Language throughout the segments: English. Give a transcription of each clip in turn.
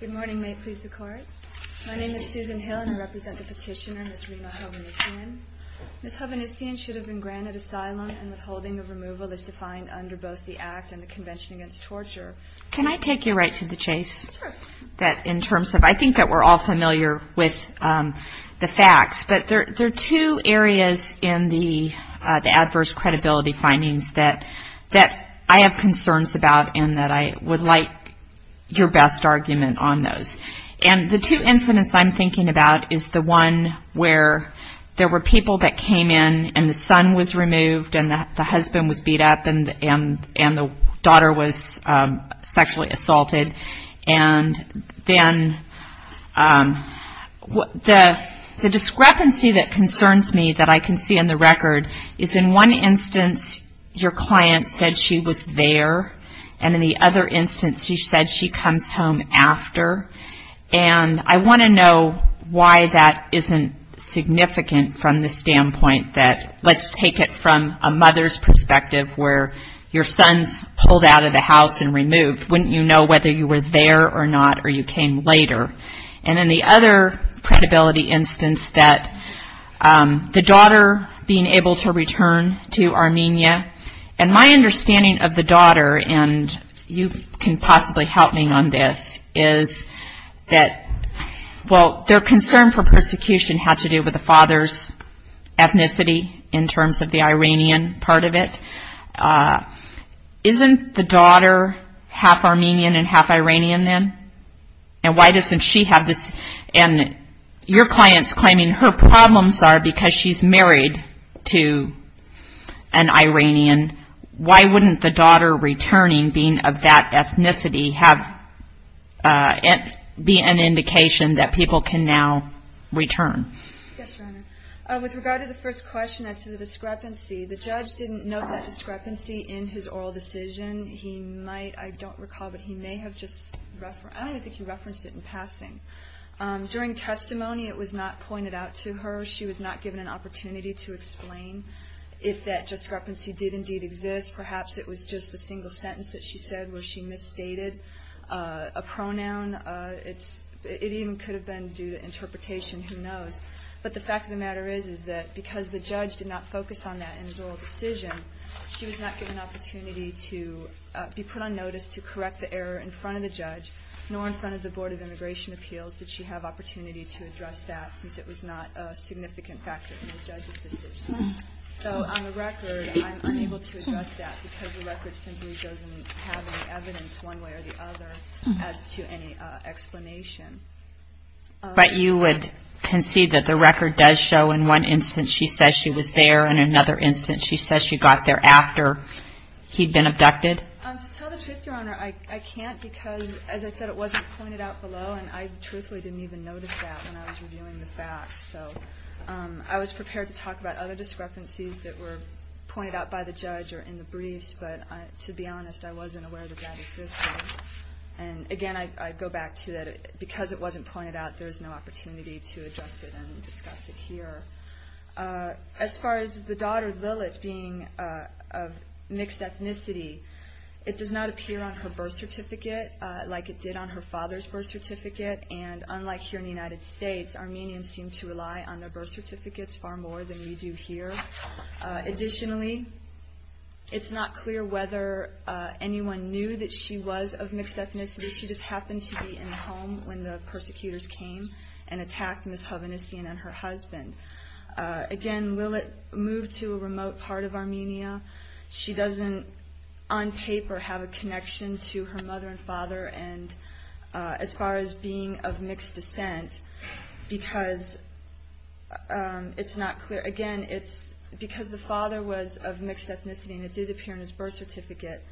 Good morning, may it please the court. My name is Susan Hill and I represent the petitioner, Ms. Rina Hovhannisyan. Ms. Hovhannisyan should have been granted asylum and withholding of removal is defined under both the Act and the Convention Against Torture. Can I take you right to the chase? Sure. In terms of, I think that we're all familiar with the facts, but there are two areas in the adverse credibility findings that I have concerns about and that I would like your best argument on those. And the two incidents I'm thinking about is the one where there were people that came in and the son was removed and the husband was beat up and the daughter was sexually assaulted. And then the discrepancy that concerns me that I can see in the record is in one instance your client said she was there and in the other instance she said she comes home after. And I want to know why that isn't significant from the standpoint that, let's take it from a mother's perspective where your son's pulled out of the house and removed. Wouldn't you know whether you were there or not or you came later? And in the other credibility instance that the daughter being able to return to Armenia, and my understanding of the daughter, and you can possibly help me on this, is that, well, their concern for persecution had to do with the father's ethnicity in terms of the Iranian part of it. Isn't the daughter half Armenian and half Iranian then? And why doesn't she have this? And your client's claiming her problems are because she's married to an Iranian. Why wouldn't the daughter returning being of that ethnicity be an indication that people can now return? Yes, Your Honor. With regard to the first question as to the discrepancy, the judge didn't note that discrepancy in his oral decision. He might, I don't recall, but he may have just referenced it in passing. During testimony it was not pointed out to her. She was not given an opportunity to explain if that discrepancy did indeed exist. Perhaps it was just the single sentence that she said where she misstated a pronoun. Who knows? But the fact of the matter is that because the judge did not focus on that in his oral decision, she was not given an opportunity to be put on notice to correct the error in front of the judge, nor in front of the Board of Immigration Appeals did she have opportunity to address that since it was not a significant factor in the judge's decision. So on the record, I'm unable to address that because the record simply doesn't have any evidence one way or the other as to any explanation. But you would concede that the record does show in one instance she says she was there, in another instance she says she got there after he'd been abducted? To tell the truth, Your Honor, I can't because, as I said, it wasn't pointed out below, and I truthfully didn't even notice that when I was reviewing the facts. So I was prepared to talk about other discrepancies that were pointed out by the judge or in the briefs, but to be honest, I wasn't aware that that existed. And again, I go back to that because it wasn't pointed out, there's no opportunity to address it and discuss it here. As far as the daughter, Lilith, being of mixed ethnicity, it does not appear on her birth certificate like it did on her father's birth certificate, and unlike here in the United States, Armenians seem to rely on their birth certificates far more than we do here. Additionally, it's not clear whether anyone knew that she was of mixed ethnicity. She just happened to be in the home when the persecutors came and attacked Ms. Hovhannissian and her husband. Again, Lilith moved to a remote part of Armenia. She doesn't, on paper, have a connection to her mother and father as far as being of mixed descent because it's not clear. Again, because the father was of mixed ethnicity and it did appear on his birth certificate,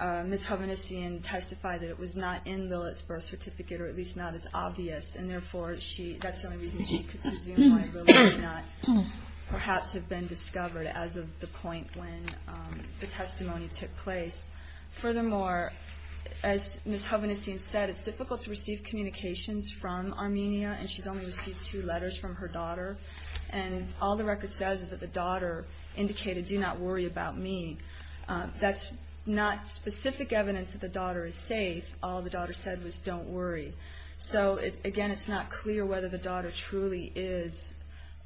Ms. Hovhannissian testified that it was not in Lilith's birth certificate, or at least not as obvious, and therefore that's the only reason she could presume why Lilith did not perhaps have been discovered as of the point when the testimony took place. Furthermore, as Ms. Hovhannissian said, it's difficult to receive communications from Armenia, and she's only received two letters from her daughter, and all the record says is that the daughter indicated, do not worry about me. That's not specific evidence that the daughter is safe. All the daughter said was don't worry. So again, it's not clear whether the daughter truly is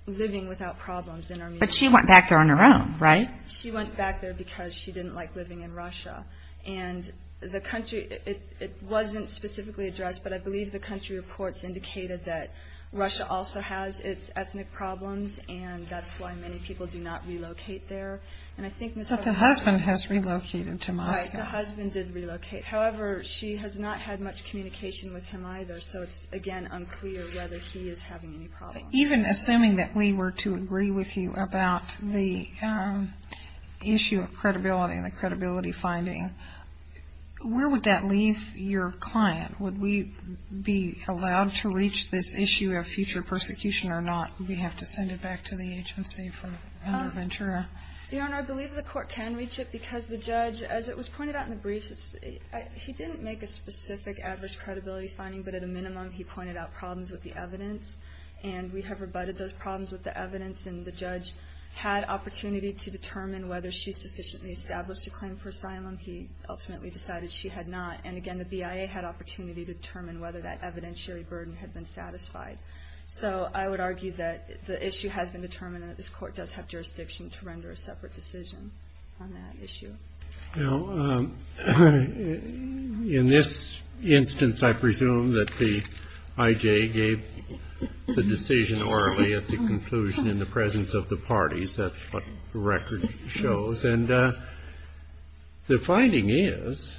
living without problems in Armenia. But she went back there on her own, right? She went back there because she didn't like living in Russia. And the country, it wasn't specifically addressed, but I believe the country reports indicated that Russia also has its ethnic problems, and that's why many people do not relocate there. But the husband has relocated to Moscow. Right, the husband did relocate. However, she has not had much communication with him either, so it's, again, unclear whether he is having any problems. Even assuming that we were to agree with you about the issue of credibility and the credibility finding, where would that leave your client? Would we be allowed to reach this issue of future persecution or not? Do we have to send it back to the agency from Governor Ventura? Your Honor, I believe the court can reach it because the judge, as it was pointed out in the briefs, he didn't make a specific adverse credibility finding, but at a minimum he pointed out problems with the evidence. And we have rebutted those problems with the evidence, and the judge had opportunity to determine whether she sufficiently established a claim for asylum. He ultimately decided she had not. And, again, the BIA had opportunity to determine whether that evidentiary burden had been satisfied. So I would argue that the issue has been determined and that this court does have jurisdiction to render a separate decision on that issue. Now, in this instance, I presume that the IJ gave the decision orally at the conclusion in the presence of the parties. That's what the record shows. And the finding is,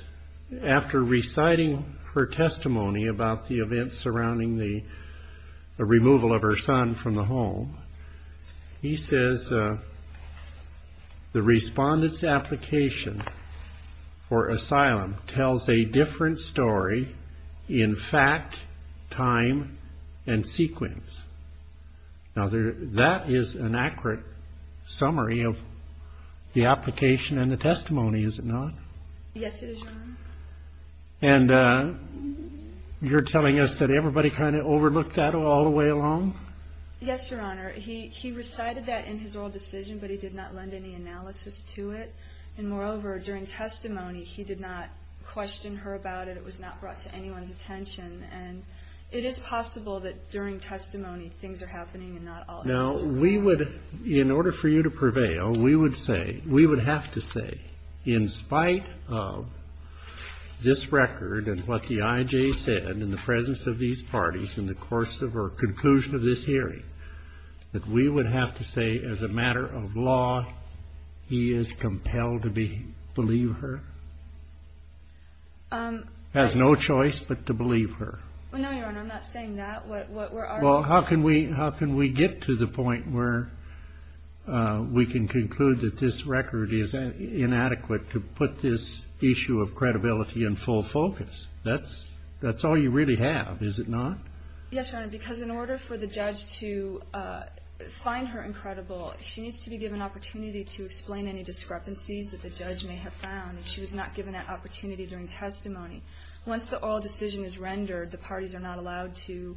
after reciting her testimony about the events surrounding the removal of her son from the home, he says the respondent's application for asylum tells a different story in fact, time, and sequence. Now, that is an accurate summary of the application and the testimony, is it not? Yes, it is, Your Honor. And you're telling us that everybody kind of overlooked that all the way along? Yes, Your Honor. He recited that in his oral decision, but he did not lend any analysis to it. And, moreover, during testimony, he did not question her about it. It was not brought to anyone's attention. And it is possible that during testimony things are happening and not all at once. Now, we would, in order for you to prevail, we would say, we would have to say, in spite of this record and what the IJ said in the presence of these parties in the course of our conclusion of this hearing, that we would have to say, as a matter of law, he is compelled to believe her, has no choice but to believe her. No, Your Honor, I'm not saying that. Well, how can we get to the point where we can conclude that this record is inadequate to put this issue of credibility in full focus? That's all you really have, is it not? Yes, Your Honor, because in order for the judge to find her incredible, she needs to be given an opportunity to explain any discrepancies that the judge may have found. And she was not given that opportunity during testimony. Once the oral decision is rendered, the parties are not allowed to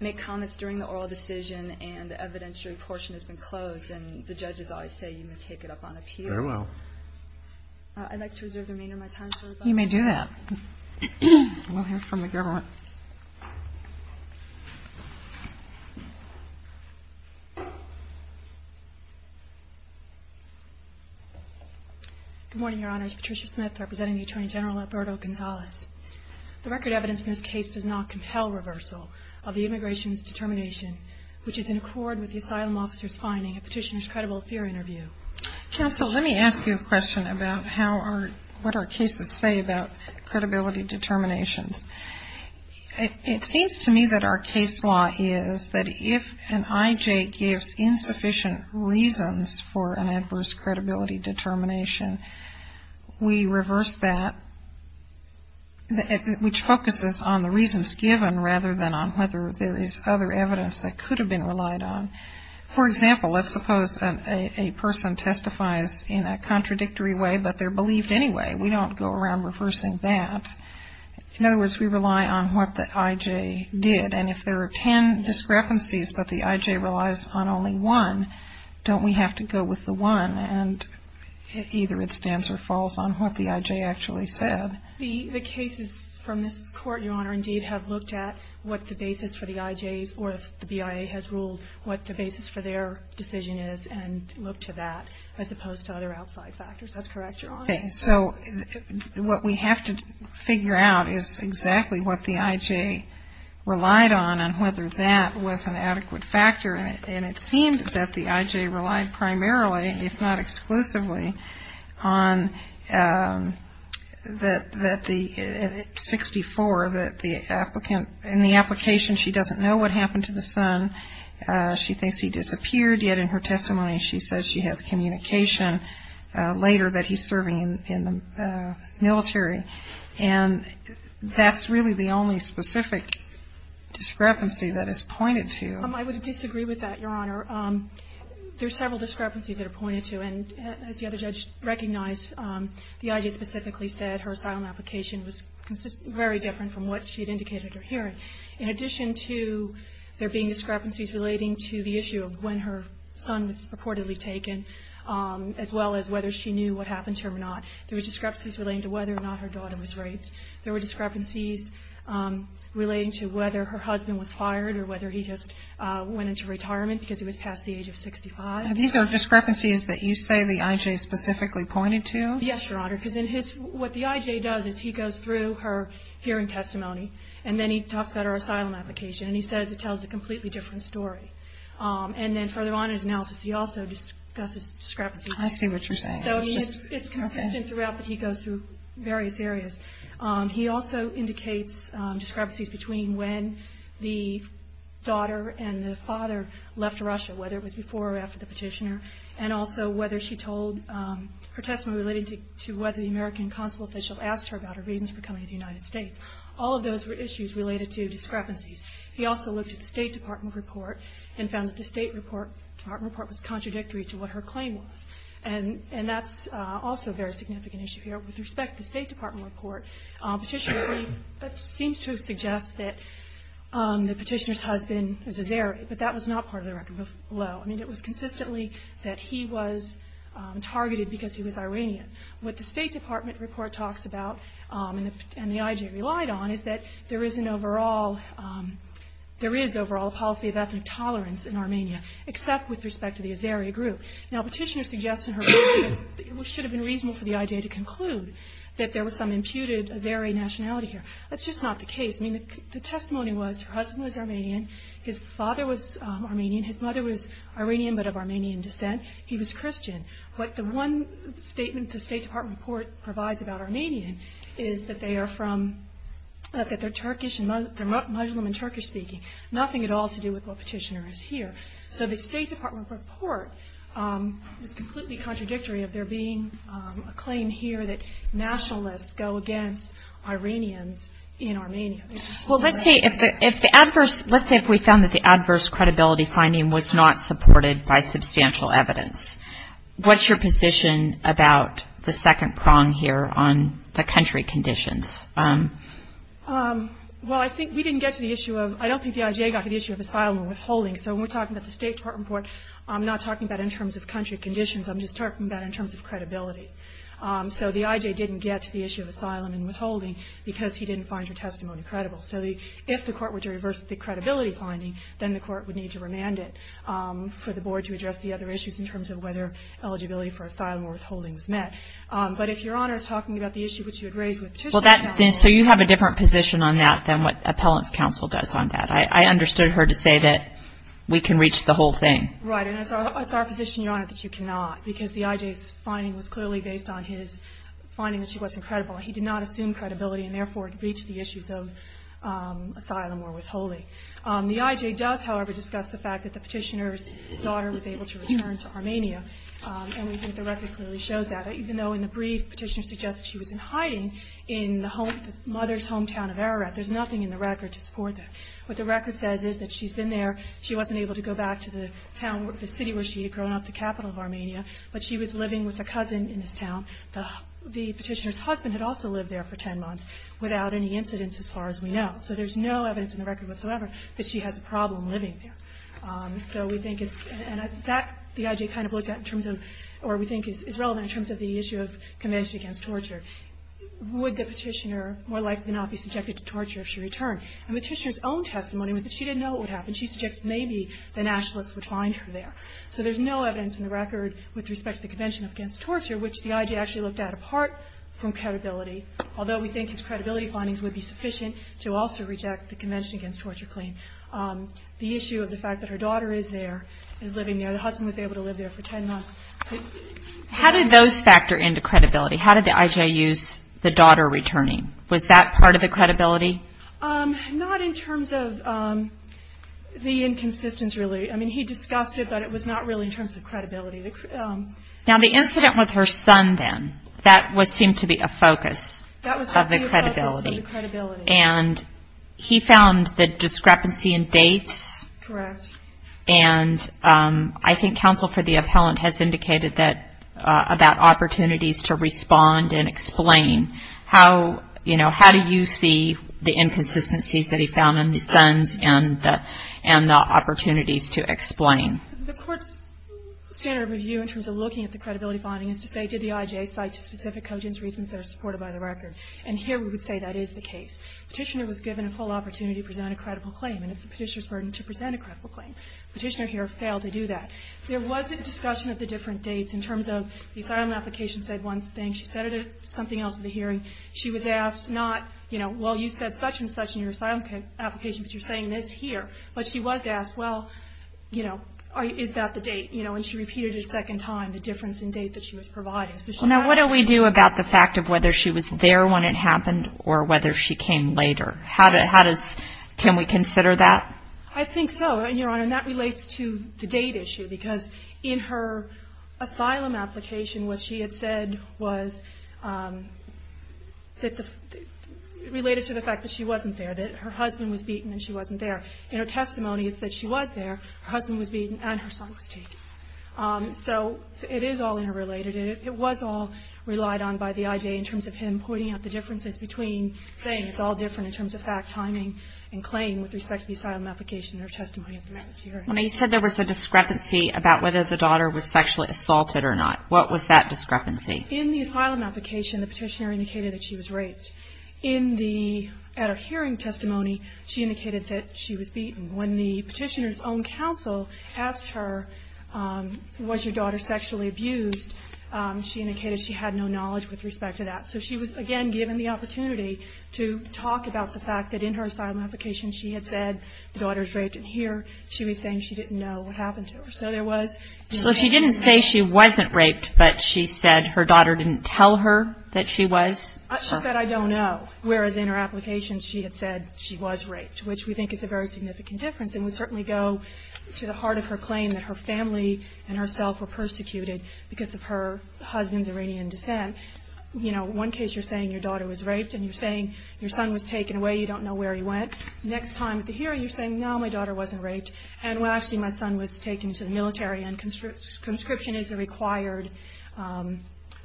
make comments during the oral decision and the evidentiary portion has been closed. And the judges always say you may take it up on appeal. Very well. I'd like to reserve the remainder of my time for rebuttal. You may do that. We'll hear from the government. Good morning, Your Honors. Patricia Smith representing the Attorney General, Alberto Gonzalez. The record evidence in this case does not compel reversal of the immigration's determination, which is in accord with the asylum officer's finding of Petitioner's credible fear interview. Counsel, let me ask you a question about what our cases say about credibility determinations. It seems to me that our case law is that if an IJ gives insufficient reasons for an adverse credibility determination, we reverse that, which focuses on the reasons given rather than on whether there is other evidence that could have been relied on. For example, let's suppose a person testifies in a contradictory way but they're believed anyway. We don't go around reversing that. In other words, we rely on what the IJ did. And if there are ten discrepancies but the IJ relies on only one, don't we have to go with the one and either it stands or falls on what the IJ actually said? The cases from this Court, Your Honor, indeed have looked at what the basis for the IJ's or if the BIA has ruled what the basis for their decision is and looked to that, as opposed to other outside factors. That's correct, Your Honor. Okay. So what we have to figure out is exactly what the IJ relied on and whether that was an adequate factor. And it seemed that the IJ relied primarily, if not exclusively, on that the 64, that the applicant in the application, she doesn't know what happened to the son. She thinks he disappeared. Yet in her testimony, she says she has communication later that he's serving in the military. And that's really the only specific discrepancy that is pointed to. I would disagree with that, Your Honor. There are several discrepancies that are pointed to. And as the other judge recognized, the IJ specifically said her asylum application was very different from what she had indicated at her hearing. In addition to there being discrepancies relating to the issue of when her son was purportedly taken, as well as whether she knew what happened to her or not, there were discrepancies relating to whether or not her daughter was raped. There were discrepancies relating to whether her husband was fired or whether he just went into retirement because he was past the age of 65. These are discrepancies that you say the IJ specifically pointed to? Yes, Your Honor. Because what the IJ does is he goes through her hearing testimony, and then he talks about her asylum application, and he says it tells a completely different story. And then further on in his analysis, he also discusses discrepancies. I see what you're saying. It's consistent throughout that he goes through various areas. He also indicates discrepancies between when the daughter and the father left Russia, whether it was before or after the petitioner, and also whether she told her testimony relating to whether the American consul official asked her about her reasons for coming to the United States. All of those were issues related to discrepancies. He also looked at the State Department report and found that the State Department report was contradictory to what her claim was. And that's also a very significant issue here. With respect to the State Department report, petitioner seems to suggest that the petitioner's husband is a Zairi, but that was not part of the record below. I mean, it was consistently that he was targeted because he was Iranian. What the State Department report talks about, and the IJ relied on, is that there is an overall policy of ethnic tolerance in Armenia, except with respect to the Zairi group. Now, petitioner suggests in her report that it should have been reasonable for the IJ to conclude that there was some imputed Zairi nationality here. That's just not the case. I mean, the testimony was her husband was Armenian, his father was Armenian, his mother was Iranian, but of Armenian descent. He was Christian. But the one statement the State Department report provides about Armenian is that they are from, that they're Turkish, they're Muslim and Turkish speaking. Nothing at all to do with what petitioner is here. So the State Department report is completely contradictory of there being a claim here that nationalists go against Iranians in Armenia. Well, let's say if the adverse, let's say if we found that the adverse credibility finding was not supported by substantial evidence. What's your position about the second prong here on the country conditions? Well, I think we didn't get to the issue of, I don't think the IJ got to the issue of asylum and withholding. So when we're talking about the State Department report, I'm not talking about in terms of country conditions. I'm just talking about in terms of credibility. So the IJ didn't get to the issue of asylum and withholding because he didn't find her testimony credible. So if the court were to reverse the credibility finding, then the court would need to remand it for the board to address the other issues in terms of whether eligibility for asylum or withholding was met. But if Your Honor is talking about the issue which you had raised with Petitioner. So you have a different position on that than what Appellant's Counsel does on that. I understood her to say that we can reach the whole thing. Right. And it's our position, Your Honor, that you cannot because the IJ's finding was clearly based on his finding that she wasn't credible. He did not assume credibility and, therefore, reached the issues of asylum or withholding. The IJ does, however, discuss the fact that the Petitioner's daughter was able to return to Armenia. And we think the record clearly shows that. Even though in the brief Petitioner suggests she was in hiding in the mother's hometown of Ararat, there's nothing in the record to support that. What the record says is that she's been there. She wasn't able to go back to the city where she had grown up, the capital of Armenia. But she was living with a cousin in this town. The Petitioner's husband had also lived there for 10 months without any incidents as far as we know. So there's no evidence in the record whatsoever that she has a problem living there. So we think it's – and that the IJ kind of looked at in terms of – or we think is relevant in terms of the issue of Convention Against Torture. Would the Petitioner more likely not be subjected to torture if she returned? And the Petitioner's own testimony was that she didn't know what would happen. She suggested maybe the nationalists would find her there. So there's no evidence in the record with respect to the Convention Against Torture which the IJ actually looked at apart from credibility. Although we think his credibility findings would be sufficient to also reject the Convention Against Torture claim. The issue of the fact that her daughter is there, is living there. The husband was able to live there for 10 months. How did those factor into credibility? How did the IJ use the daughter returning? Was that part of the credibility? Not in terms of the inconsistency, really. I mean, he discussed it, but it was not really in terms of credibility. Now the incident with her son then, that seemed to be a focus of the credibility. That was the focus of the credibility. And he found the discrepancy in dates. Correct. And I think counsel for the appellant has indicated that – about opportunities to respond and explain. How, you know, how do you see the inconsistencies that he found in the sons and the opportunities to explain? The court's standard of review in terms of looking at the credibility findings is to say, did the IJ cite specific cogent reasons that are supported by the record? And here we would say that is the case. Petitioner was given a full opportunity to present a credible claim, and it's the petitioner's burden to present a credible claim. Petitioner here failed to do that. There wasn't discussion of the different dates in terms of the asylum application said one thing, she said it at something else at the hearing. She was asked not, you know, well, you said such and such in your asylum application, but you're saying this here. But she was asked, well, you know, is that the date? You know, and she repeated it a second time, the difference in date that she was providing. Now, what do we do about the fact of whether she was there when it happened or whether she came later? How does – can we consider that? I think so, Your Honor, and that relates to the date issue because in her asylum application what she had said was that the – related to the fact that she wasn't there, that her husband was beaten and she wasn't there. In her testimony it said she was there. Her husband was beaten and her son was taken. So it is all interrelated. It was all relied on by the IJ in terms of him pointing out the differences between saying it's all different in terms of fact, timing, and claim with respect to the asylum application in her testimony at the merits hearing. You said there was a discrepancy about whether the daughter was sexually assaulted or not. What was that discrepancy? In the asylum application the petitioner indicated that she was raped. In the – at a hearing testimony she indicated that she was beaten. When the petitioner's own counsel asked her was your daughter sexually abused, she indicated she had no knowledge with respect to that. So she was, again, given the opportunity to talk about the fact that in her asylum application she had said the daughter was raped, and here she was saying she didn't know what happened to her. So there was – So she didn't say she wasn't raped, but she said her daughter didn't tell her that she was? She said, I don't know, whereas in her application she had said she was raped, which we think is a very significant difference and would certainly go to the heart of her claim that her family and herself were persecuted because of her husband's Iranian descent. You know, one case you're saying your daughter was raped and you're saying your son was taken away, you don't know where he went. Next time at the hearing you're saying, no, my daughter wasn't raped, and, well, actually my son was taken to the military and conscription is a required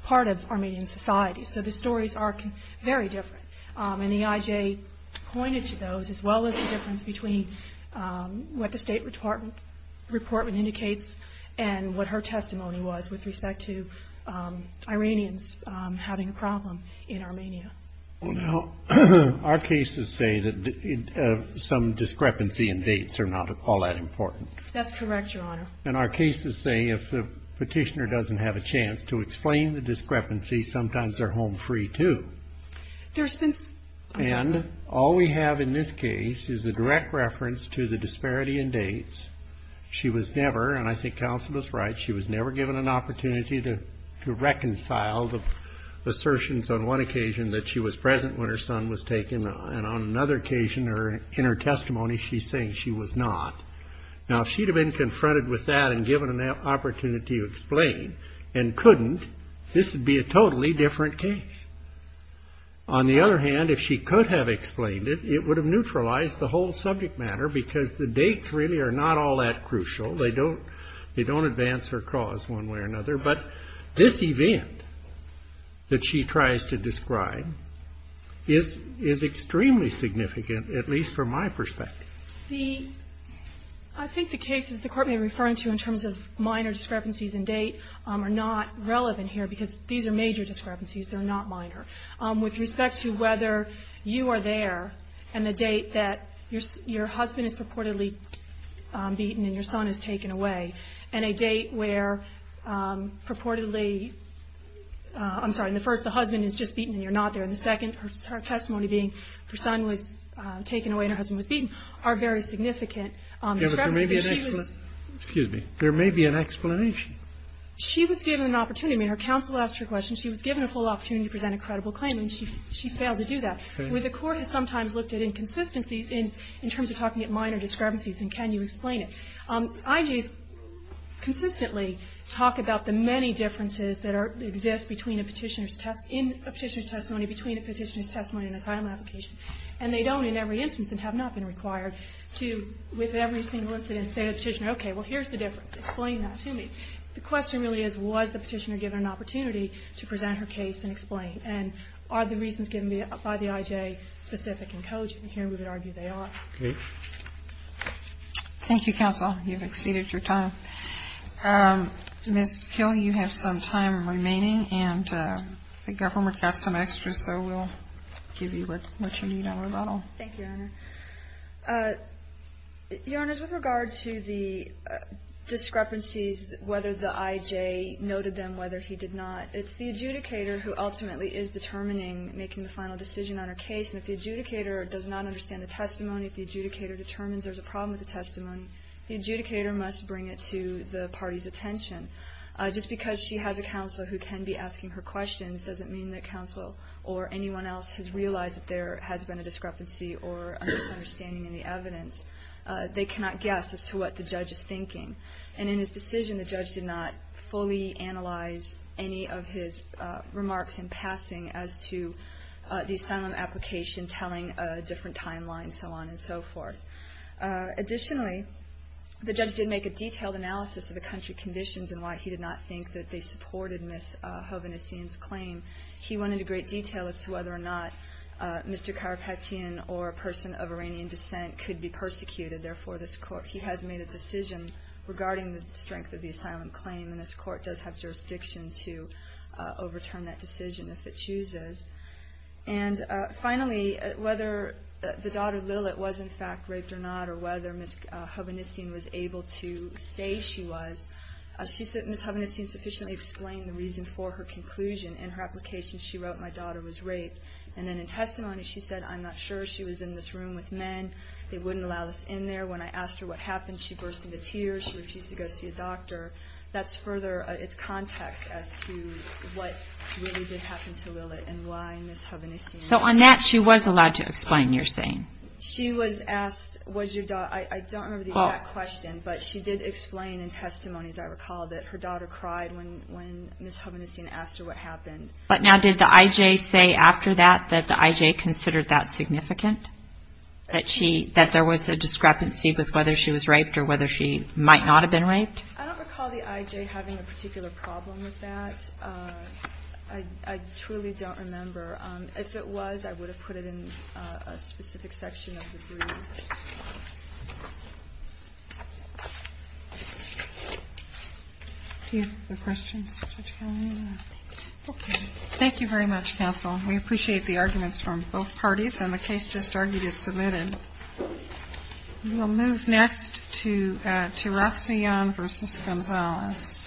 part of Armenian society. So the stories are very different. And EIJ pointed to those as well as the difference between what the State Department indicates and what her testimony was with respect to Iranians having a problem in Armenia. Well, now, our cases say that some discrepancy in dates are not all that important. That's correct, Your Honor. And our cases say if the petitioner doesn't have a chance to explain the discrepancy, sometimes they're home free too. And all we have in this case is a direct reference to the disparity in dates. She was never, and I think counsel was right, she was never given an opportunity to reconcile the assertions on one occasion that she was present when her son was taken, and on another occasion in her testimony she's saying she was not. Now, if she'd have been confronted with that and given an opportunity to explain and couldn't, this would be a totally different case. On the other hand, if she could have explained it, it would have neutralized the whole subject matter because the dates really are not all that crucial. They don't advance her cause one way or another. But this event that she tries to describe is extremely significant, at least from my perspective. I think the cases the Court may be referring to in terms of minor discrepancies in date are not relevant here because these are major discrepancies. They're not minor. With respect to whether you are there and the date that your husband is purportedly beaten and your son is taken away, and a date where purportedly – I'm sorry. In the first, the husband is just beaten and you're not there. In the second, her testimony being her son was taken away and her husband was beaten are very significant. But there may be an – excuse me. There may be an explanation. She was given an opportunity. I mean, her counsel asked her a question. She was given a full opportunity to present a credible claim, and she failed to do that. The Court has sometimes looked at inconsistencies in terms of talking at minor discrepancies and can you explain it. IGs consistently talk about the many differences that exist between a Petitioner's testimony and a final application, and they don't in every instance and have not been required to, with every single incident, say to the Petitioner, okay, well, here's the difference. Explain that to me. The question really is, was the Petitioner given an opportunity to present her case and explain? And are the reasons given by the IJ specific and cogent? And here we would argue they are. Okay. Thank you, counsel. You've exceeded your time. Ms. Kill, you have some time remaining, and the government got some extra, so we'll give you what you need on rebuttal. Thank you, Your Honor. Your Honor, with regard to the discrepancies, whether the IJ noted them, whether he did not, it's the adjudicator who ultimately is determining, making the final decision on her case, and if the adjudicator does not understand the testimony, if the adjudicator determines there's a problem with the testimony, the adjudicator must bring it to the party's attention. Just because she has a counselor who can be asking her questions doesn't mean that has been a discrepancy or a misunderstanding in the evidence. They cannot guess as to what the judge is thinking. And in his decision, the judge did not fully analyze any of his remarks in passing as to the asylum application, telling a different timeline, so on and so forth. Additionally, the judge did make a detailed analysis of the country conditions and why he did not think that they supported Ms. Hovenessian's claim. He went into great detail as to whether or not Mr. Karapetian or a person of Iranian descent could be persecuted. Therefore, he has made a decision regarding the strength of the asylum claim, and this court does have jurisdiction to overturn that decision if it chooses. And finally, whether the daughter Lilit was, in fact, raped or not, or whether Ms. Hovenessian was able to say she was, Ms. Hovenessian sufficiently explained the reason before her conclusion in her application. She wrote, my daughter was raped. And then in testimony, she said, I'm not sure. She was in this room with men. They wouldn't allow us in there. When I asked her what happened, she burst into tears. She refused to go see a doctor. That's further, it's context as to what really did happen to Lilit and why Ms. Hovenessian was raped. So on that, she was allowed to explain your saying? She was asked, was your daughter, I don't remember the exact question, but she did explain in testimony, as I recall, that her daughter cried when Ms. Hovenessian asked her what happened. But now, did the IJ say after that that the IJ considered that significant, that she, that there was a discrepancy with whether she was raped or whether she might not have been raped? I don't recall the IJ having a particular problem with that. I truly don't remember. If it was, I would have put it in a specific section of the brief. Do you have other questions? Okay. Thank you very much, counsel. We appreciate the arguments from both parties. And the case just argued is submitted. We will move next to Tirasion v. Gonzales. Thank you.